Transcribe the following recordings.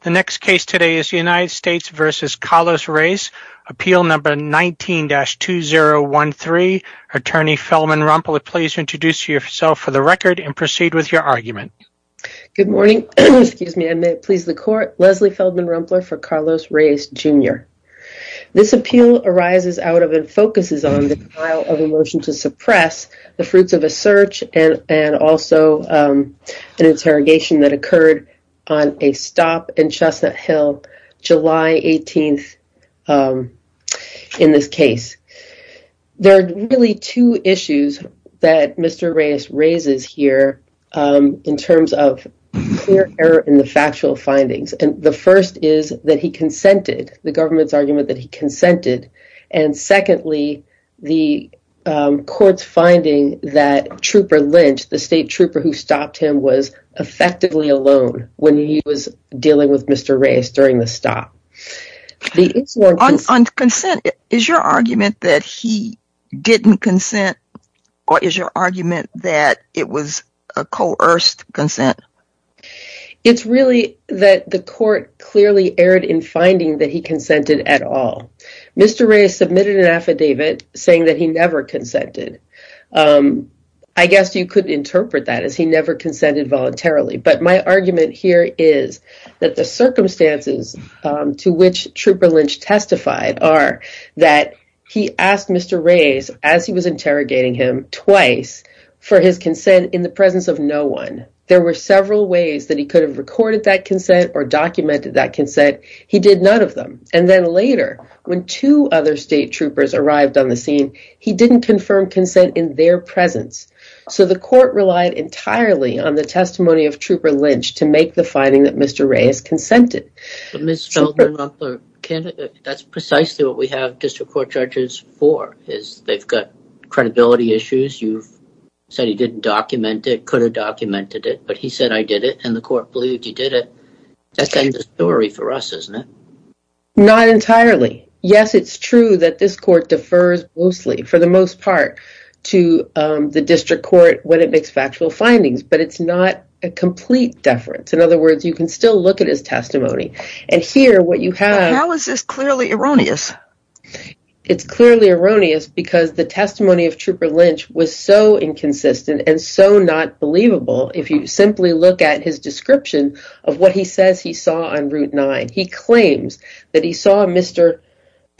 The next case today is United States v. Carlos Reyes, Appeal No. 19-2013. Attorney Feldman Rumpler, please introduce yourself for the record and proceed with your argument. Leslie Feldman Rumpler, Jr. Good morning. I may it please the court. Leslie Feldman Rumpler for Carlos Reyes, Jr. This appeal arises out of and focuses on the denial of a motion to suppress the fruits of a search and also an interrogation that occurred on a stop in Chestnut Hill July 18th in this case. There are really two issues that Mr. Reyes raises here in terms of clear error in the factual findings. The first is that he consented, the government's argument that he consented. And secondly, the court's finding that Trooper Lynch, the state trooper who stopped him, was effectively alone when he was dealing with Mr. Reyes during the stop. On consent, is your argument that he didn't consent or is your argument that it was a coerced consent? It's really that the court clearly erred in finding that he consented at all. Mr. Reyes submitted an affidavit saying that he never consented. I guess you could interpret that as he never consented voluntarily. But my argument here is that the circumstances to which Trooper Lynch testified are that he asked Mr. Reyes as he was interrogating him twice for his consent in the presence of no one. There were several ways that he could have recorded that consent or documented that consent. He did none of them. And then later, when two other state troopers arrived on the scene, he didn't confirm consent in their presence. So the court relied entirely on the testimony of Trooper Lynch to make the finding that Mr. Reyes consented. That's precisely what we have district court judges for, is they've got credibility issues. You've said he didn't document it, could have documented it, but he said I did it and the Yes, it's true that this court defers mostly for the most part to the district court when it makes factual findings, but it's not a complete deference. In other words, you can still look at his testimony and hear what you have. How is this clearly erroneous? It's clearly erroneous because the testimony of Trooper Lynch was so inconsistent and so not believable. If you simply look at his description of what he says he saw on Route 9, he claims that he saw Mr.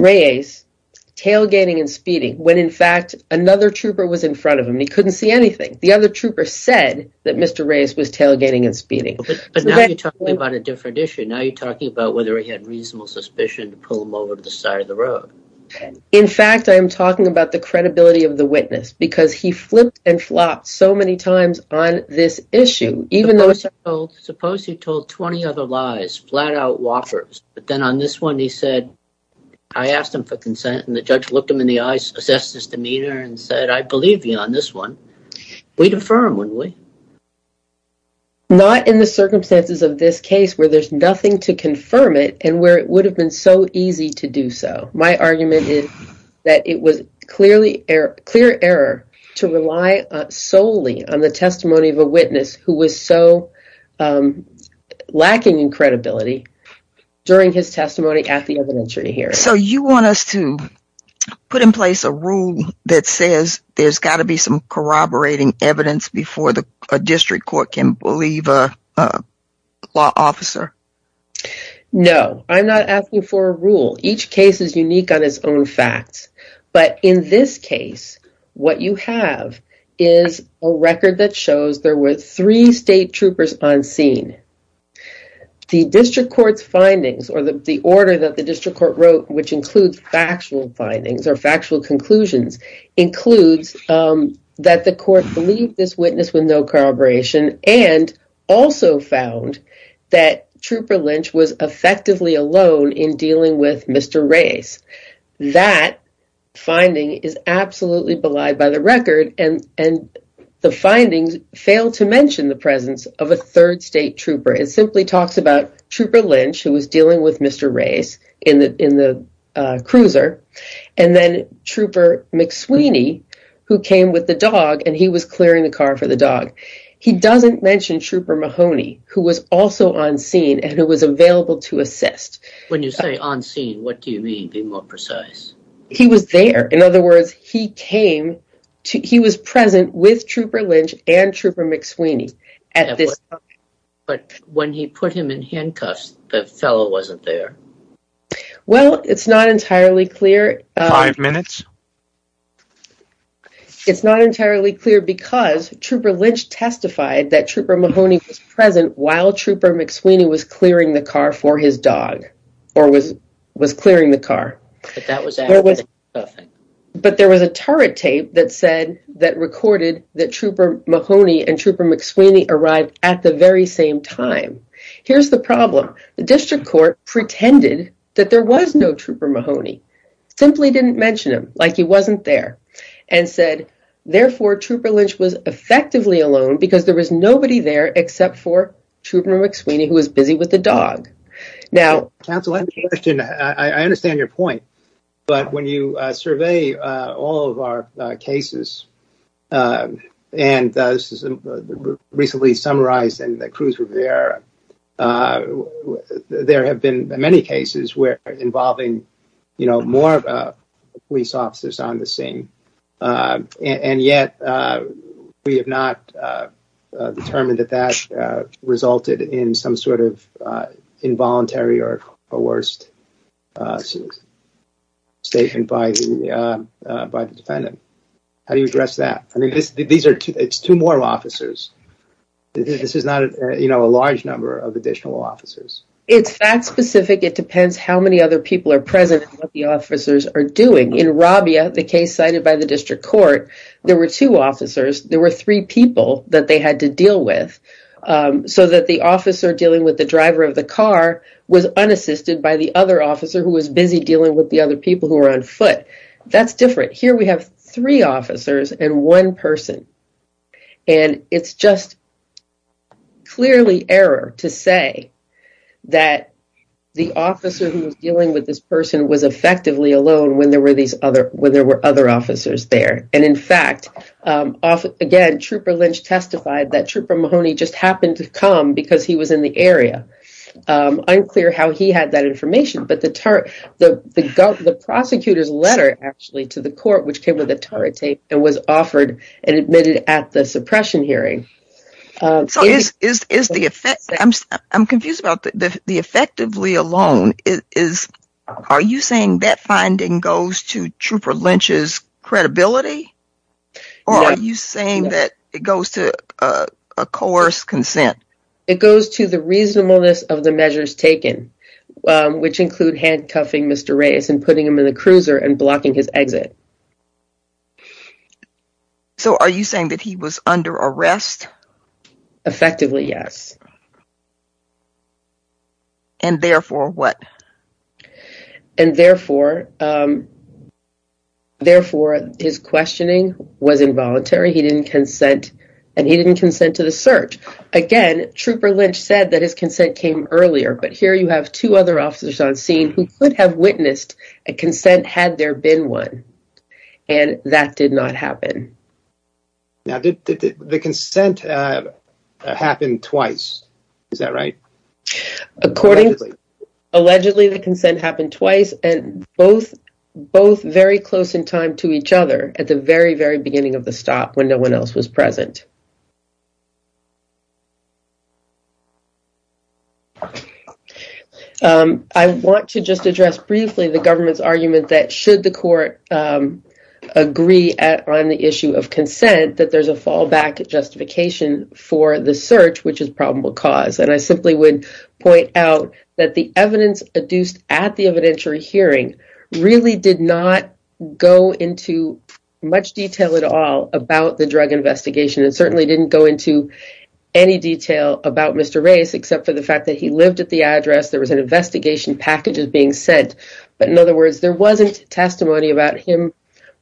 Reyes tailgating and speeding when, in fact, another trooper was in front of him. He couldn't see anything. The other trooper said that Mr. Reyes was tailgating and speeding. But now you're talking about a different issue. Now you're talking about whether he had reasonable suspicion to pull him over to the side of the road. In fact, I'm talking about the credibility of the witness because he flipped and flopped so many times on this issue. Suppose he told 20 other lies, flat out whoppers, but then on this one he said, I asked him for consent and the judge looked him in the eyes, assessed his demeanor and said, I believe you on this one. We'd affirm, wouldn't we? Not in the circumstances of this case where there's nothing to confirm it and where it would have been so easy to do so. My argument is that it was clear error to rely solely on the testimony of a witness who was so lacking in credibility during his testimony at the evidentiary hearing. So you want us to put in place a rule that says there's got to be some corroborating evidence before a district court can believe a law officer? No, I'm not asking for a rule. Each case is unique on its own facts. But in this case, what you have is a record that shows there were three state troopers on scene. The district court's findings or the order that the district court wrote, which includes factual findings or factual conclusions, includes that the court believed this witness with no corroboration and also found that Trooper Lynch was effectively alone in dealing with Mr. Race. That finding is absolutely belied by the record and the findings fail to mention the presence of a third state trooper. It simply who came with the dog and he was clearing the car for the dog. He doesn't mention Trooper Mahoney, who was also on scene and who was available to assist. When you say on scene, what do you mean? Be more precise. He was there. In other words, he came to he was present with Trooper Lynch and Trooper McSweeney. But when he put him in handcuffs, the fellow wasn't there. Well, it's not entirely clear. Five minutes. It's not entirely clear because Trooper Lynch testified that Trooper Mahoney was present while Trooper McSweeney was clearing the car for his dog or was was clearing the car. But there was a turret tape that said that recorded that Trooper Mahoney and Trooper McSweeney arrived at the very same time. Here's the problem. The district court pretended that there was no Trooper Mahoney, simply didn't mention him like he wasn't there and said, therefore, Trooper Lynch was effectively alone because there was nobody there except for Trooper McSweeney, who was busy with the dog. Now, counsel, I understand your point, but when you survey all of our cases and this is recently summarized and the crews were there, uh, there have been many cases where involving, you know, more police officers on the scene. And yet we have not determined that that resulted in some sort of involuntary or coerced statement by the defendant. How do you address that? I mean, these are two more officers. This is not, you know, a large number of additional officers. It's fact specific. It depends how many other people are present and what the officers are doing. In Rabia, the case cited by the district court, there were two officers. There were three people that they had to deal with, so that the officer dealing with the driver of the car was unassisted by the other officer who was busy dealing with the other people who were on foot. That's different. Here we have three officers and one person, and it's just clearly error to say that the officer who was dealing with this person was effectively alone when there were these other, when there were other officers there. And in fact, again, Trooper Lynch testified that Trooper Mahoney just happened to come because he was in the area. I'm clear how he had that actually to the court, which came with a tarot tape and was offered and admitted at the suppression hearing. So is the effect, I'm confused about the effectively alone. Are you saying that finding goes to Trooper Lynch's credibility? Or are you saying that it goes to a coerced consent? It goes to the reasonableness of the measures taken, which include handcuffing Mr. Reyes and blocking his exit. So are you saying that he was under arrest? Effectively, yes. And therefore what? And therefore, therefore his questioning was involuntary. He didn't consent, and he didn't consent to the search. Again, Trooper Lynch said that his consent came earlier, but here you have two other officers on scene who could have witnessed a consent had there been one, and that did not happen. Now, did the consent happen twice? Is that right? Accordingly, allegedly the consent happened twice and both, both very close in time to each other at the very, very beginning of the stop when no one else was present. Um, I want to just address briefly the government's argument that should the court, um, agree at on the issue of consent, that there's a fallback justification for the search, which is probable cause. And I simply would point out that the evidence adduced at the evidentiary hearing really did not go into much detail at all about the drug investigation. It certainly didn't go into any detail about Mr. Race, except for the fact that he lived at the address. There was an investigation packages being sent, but in other words, there wasn't testimony about him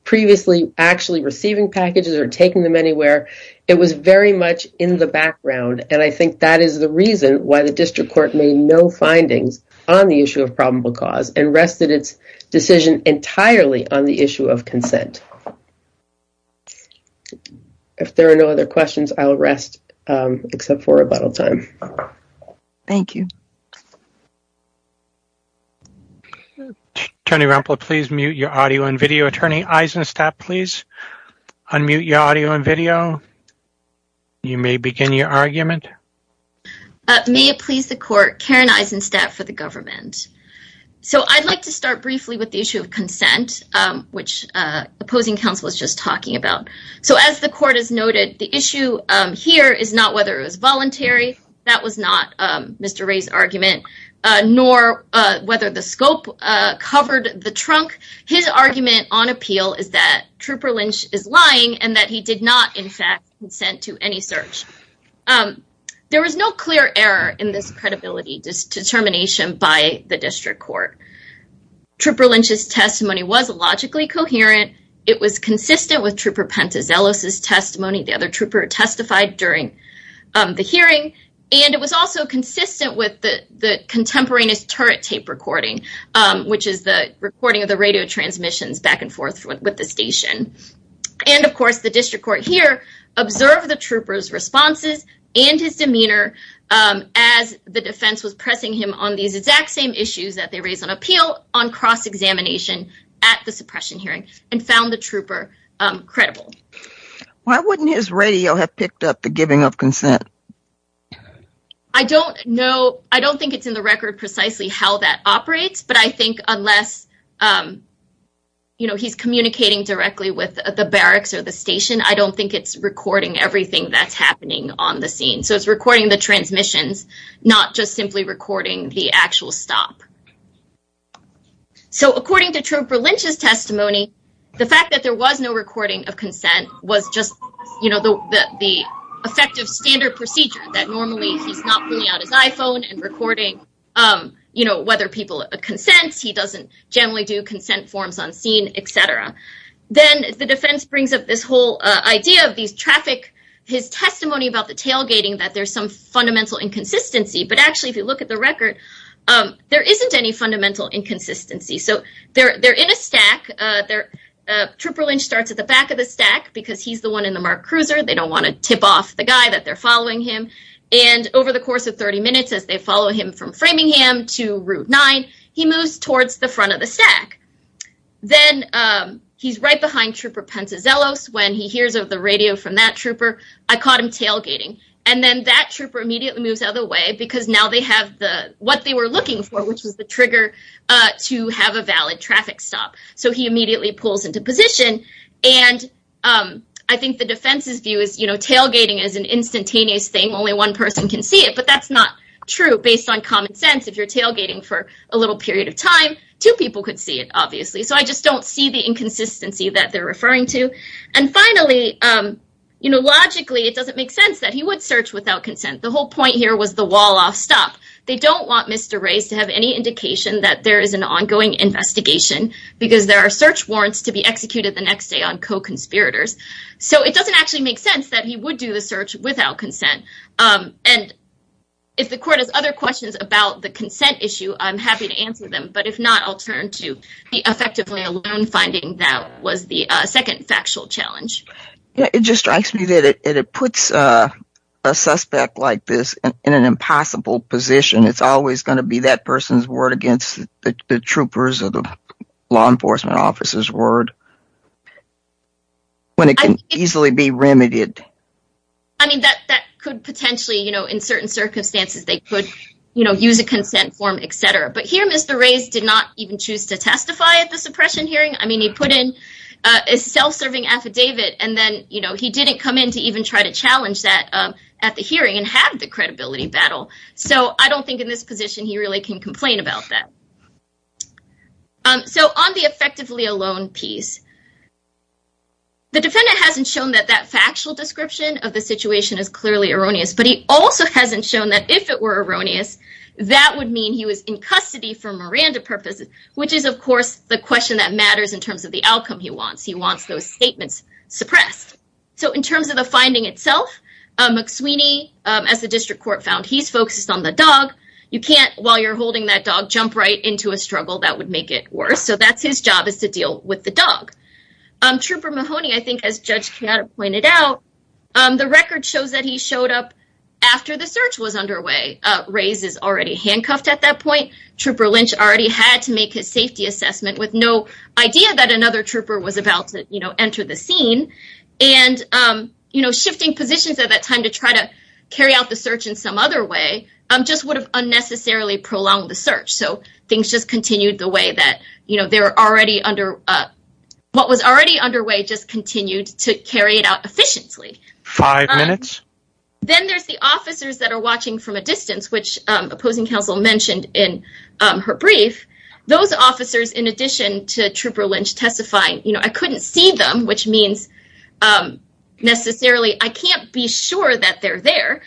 previously actually receiving packages or taking them anywhere. It was very much in the background. And I think that is the reason why the district court made no findings on the issue of probable cause and rested its decision entirely on the issue of consent. If there are no other questions, I'll rest, um, except for rebuttal time. Thank you. Attorney Rampol, please mute your audio and video. Attorney Eisenstat, please unmute your audio and video. You may begin your argument. May it please the court, Karen Eisenstat for the government. So I'd like to start briefly with the issue of consent, um, which, uh, opposing counsel was just talking about. So as the court has noted, the issue, um, here is not whether it was voluntary. That was not, um, Mr. Ray's argument, uh, nor, uh, whether the scope, uh, covered the trunk. His argument on appeal is that Trooper Lynch is lying and that he did not, in fact, consent to any search. Um, there was no clear error in this credibility determination by the district court. Trooper Lynch's testimony was logically coherent. It was consistent with Trooper Pentezelos' testimony. The other trooper testified during, um, the hearing, and it was also consistent with the contemporaneous turret tape recording, um, which is the recording of the radio transmissions back and forth with the station. And of course, the district court here observed the trooper's responses and his demeanor, um, as the defense was pressing him on these exact same issues that they raised on appeal on cross-examination at the suppression hearing and found the trooper, um, credible. Why wouldn't his radio have picked up the giving of consent? I don't know. I don't think it's in the record precisely how that operates, but I think unless, um, you know, he's communicating directly with the barracks or the station, I don't think it's recording everything that's happening on the scene. So it's recording the transmissions, not just simply recording the actual stop. So according to Trooper Lynch's testimony, the fact that there was no recording of consent was just, you know, the effective standard procedure that normally he's not pulling out his iPhone and recording, um, you know, whether people consent, he doesn't generally do consent forms on scene, etc. Then the defense brings up this whole, uh, idea of these traffic, his testimony about the tailgating, that there's some fundamental inconsistency, but actually if you look at the record, um, there isn't any fundamental inconsistency. So they're, they're in a stack, uh, they're, uh, Trooper Lynch starts at the back of the stack because he's the one in the MARC cruiser. They don't want to tip off the guy that they're following him. And over the course of 30 minutes, as they follow him from Framingham to Route 9, he moves towards the front of the stack. Then, um, he's right behind Trooper Pantazellos when he hears of the radio from that trooper. I caught him tailgating. And then that trooper immediately moves out of the way because now they have the, what they were looking for, which was the trigger, uh, to have a valid traffic stop. So he immediately pulls into position. And, um, I think the defense's view is, you know, tailgating is an instantaneous thing. Only one person can see it, but that's not true based on common sense. If you're tailgating for a little period of time, two people could see it, obviously. So I just don't see the inconsistency that they're referring to. And finally, um, you know, logically, it doesn't make sense that he would search without consent. The whole point here was the wall-off stop. They don't want Mr. Reyes to have any indication that there is an ongoing investigation because there are search warrants to be executed the next day on co-conspirators. So it doesn't actually make sense that he would do the search without consent. Um, and if the court has other questions about the consent issue, I'm happy to answer them. But if not, I'll turn to the effectively alone finding that was the second factual challenge. Yeah, it just strikes me that it puts a suspect like this in an impossible position. It's always going to be that person's word against the troopers or the law enforcement officer's word when it can easily be remedied. I mean, that could potentially, you know, in certain circumstances, they could, you know, use a consent form, etc. But here, Mr. Reyes did not even choose to testify at the suppression hearing. I mean, he put in a self-serving affidavit. And then, you know, he didn't come in to even try to challenge that at the hearing and have the credibility battle. So I don't think in this position, he really can complain about that. So on the effectively alone piece, the defendant hasn't shown that that factual description of the situation is clearly erroneous. But he also hasn't shown that if it were erroneous, that would mean he was in custody for Miranda purposes, which is, of course, the question that matters in terms of the outcome he wants. He wants those statements suppressed. So in terms of the finding itself, McSweeney, as the district court found, he's focused on the dog. You can't, while you're holding that dog, jump right into a struggle that would make it worse. So that's his job is to deal with the dog. Trooper Mahoney, I think, as Judge Chiara pointed out, the record shows that he showed up after the search was underway. Reyes is already handcuffed at that point. Trooper Lynch already had to make his safety assessment with no idea that another trooper was about to enter the scene. And, you know, shifting positions at that time to try to carry out the search in some other way just would have unnecessarily prolonged the search. So things just continued the way that, they were already under, what was already underway just continued to carry it out efficiently. Five minutes. Then there's the officers that are watching from a distance, which opposing counsel mentioned in her brief. Those officers, in addition to Trooper Lynch testifying, you know, I couldn't see them, which means necessarily I can't be sure that they're there.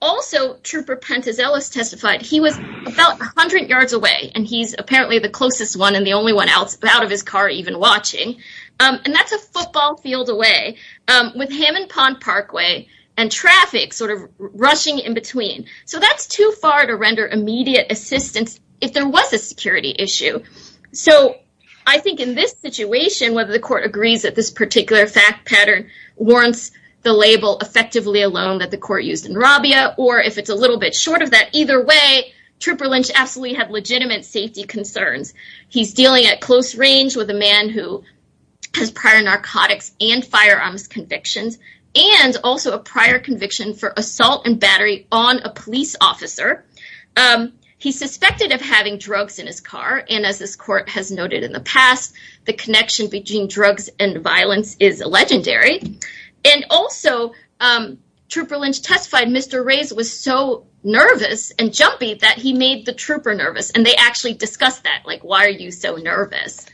Also, Trooper Pantazelos testified he was about 100 yards away, and he's apparently the closest one and the only one out of his car even watching. And that's a football field away with Hammond Pond Parkway and traffic sort of rushing in between. So that's too far to render immediate assistance if there was a security issue. So I think in this situation, whether the court agrees that this particular fact pattern warrants the label effectively alone that the court used in Rabia, or if it's a little bit of that either way, Trooper Lynch absolutely had legitimate safety concerns. He's dealing at close range with a man who has prior narcotics and firearms convictions, and also a prior conviction for assault and battery on a police officer. He's suspected of having drugs in his car. And as this court has noted in the past, the connection between drugs and violence is legendary. And also, Trooper Lynch testified Mr. Reyes was so nervous and jumpy that he made the trooper nervous. And they actually discussed that, like, why are you so nervous?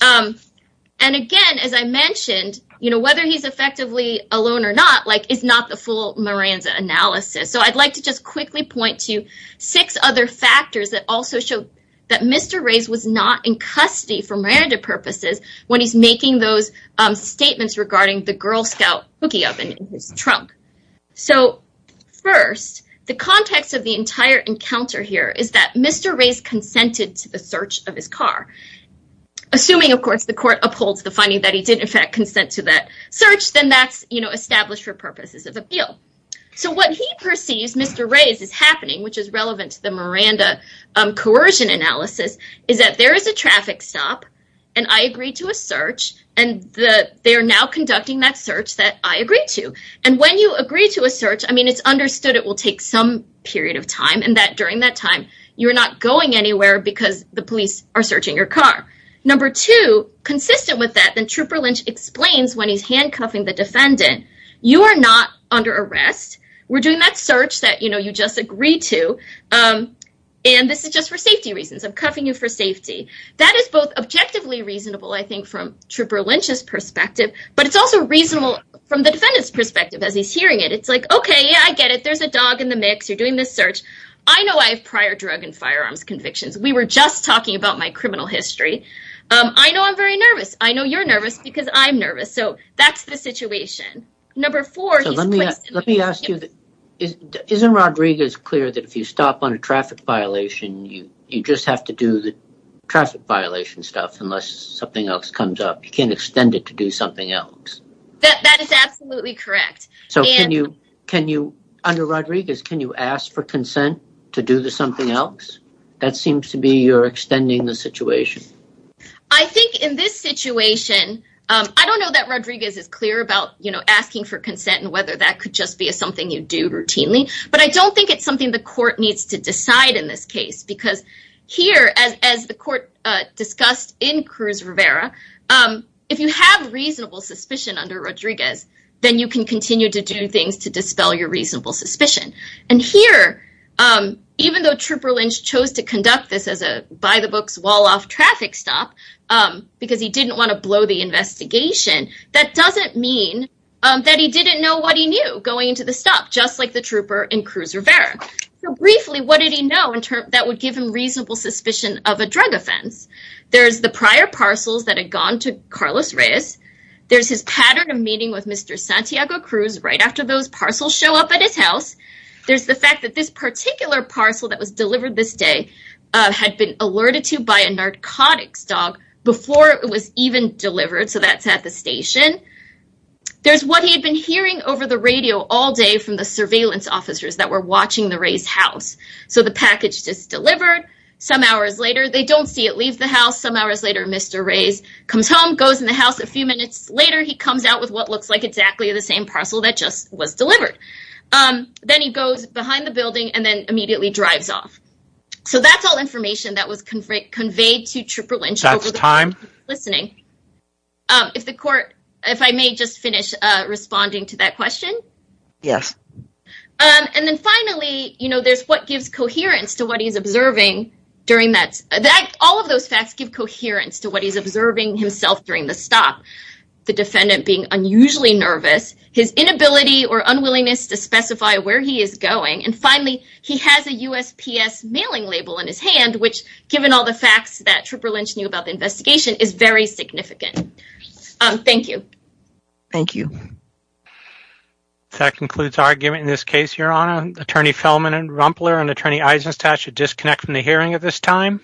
And again, as I mentioned, you know, whether he's effectively alone or not, like, it's not the full Miranda analysis. So I'd like to just quickly point to six other factors that also show that Mr. Reyes was not in custody for Miranda purposes when he's making those statements regarding the Girl Scout cookie oven in his trunk. So first, the context of the entire encounter here is that Mr. Reyes consented to the search of his car. Assuming, of course, the court upholds the finding that he did in fact consent to that search, then that's, you know, established for purposes of appeal. So what he perceives Mr. Reyes is happening, which is relevant to the Miranda coercion analysis, is that there is a traffic stop, and I agreed to a search, and they are now conducting that search that I agreed to. And when you agree to a search, I mean, it's understood it will take some period of time, and that during that time, you're not going anywhere because the police are searching your car. Number two, consistent with that, then Trooper Lynch explains when he's handcuffing the defendant, you are not under arrest. We're doing that search that, you know, you just agreed to, and this is just for safety reasons. I'm cuffing you for safety. That is both objectively reasonable, I think, from Trooper Lynch's perspective, but it's also reasonable from the defendant's perspective as he's hearing it. It's like, okay, yeah, I get it. There's a dog in the mix. You're doing this search. I know I have prior drug and firearms convictions. We were just talking about my criminal history. I know I'm very nervous. I know you're nervous because I'm nervous. So that's the situation. Number four, let me ask you, isn't Rodriguez clear that if you stop on a traffic violation, you just have to do the traffic violation stuff unless something else comes up. You can't extend it to do something else. That is absolutely correct. So can you, can you, under Rodriguez, can you ask for consent to do the something else? That seems to be you're about, you know, asking for consent and whether that could just be something you do routinely. But I don't think it's something the court needs to decide in this case, because here, as the court discussed in Cruz Rivera, if you have reasonable suspicion under Rodriguez, then you can continue to do things to dispel your reasonable suspicion. And here, even though Trooper Lynch chose to conduct this as a by-the-books wall-off traffic stop because he didn't want to blow the investigation, that doesn't mean that he didn't know what he knew going into the stop, just like the Trooper and Cruz Rivera. Briefly, what did he know in terms that would give him reasonable suspicion of a drug offense? There's the prior parcels that had gone to Carlos Reyes. There's his pattern of meeting with Mr. Santiago Cruz right after those parcels show up at his house. There's the fact that this particular parcel that was delivered this day had been alerted to by a narcotics dog before it was even delivered. So that's at the station. There's what he had been hearing over the radio all day from the surveillance officers that were watching the Reyes house. So the package just delivered. Some hours later, they don't see it leave the house. Some hours later, Mr. Reyes comes home, goes in the house. A few minutes later, he comes out with what looks like exactly the same parcel that just was delivered. Then he goes behind the building and then immediately drives off. So that's all information that was conveyed to Trooper Lynch listening. If the court, if I may just finish responding to that question. Yes. And then finally, you know, there's what gives coherence to what he's observing during that. All of those facts give coherence to what he's observing himself during the stop. The defendant being unusually nervous, his inability or unwillingness to specify where he is going. And finally, he has a USPS mailing label in his hand, which given all the facts that Trooper Lynch knew about the investigation is very significant. Thank you. Thank you. That concludes our argument in this case, Your Honor. Attorney Fellman and Rumpler and Attorney Eisenstat should disconnect from the hearing at this time.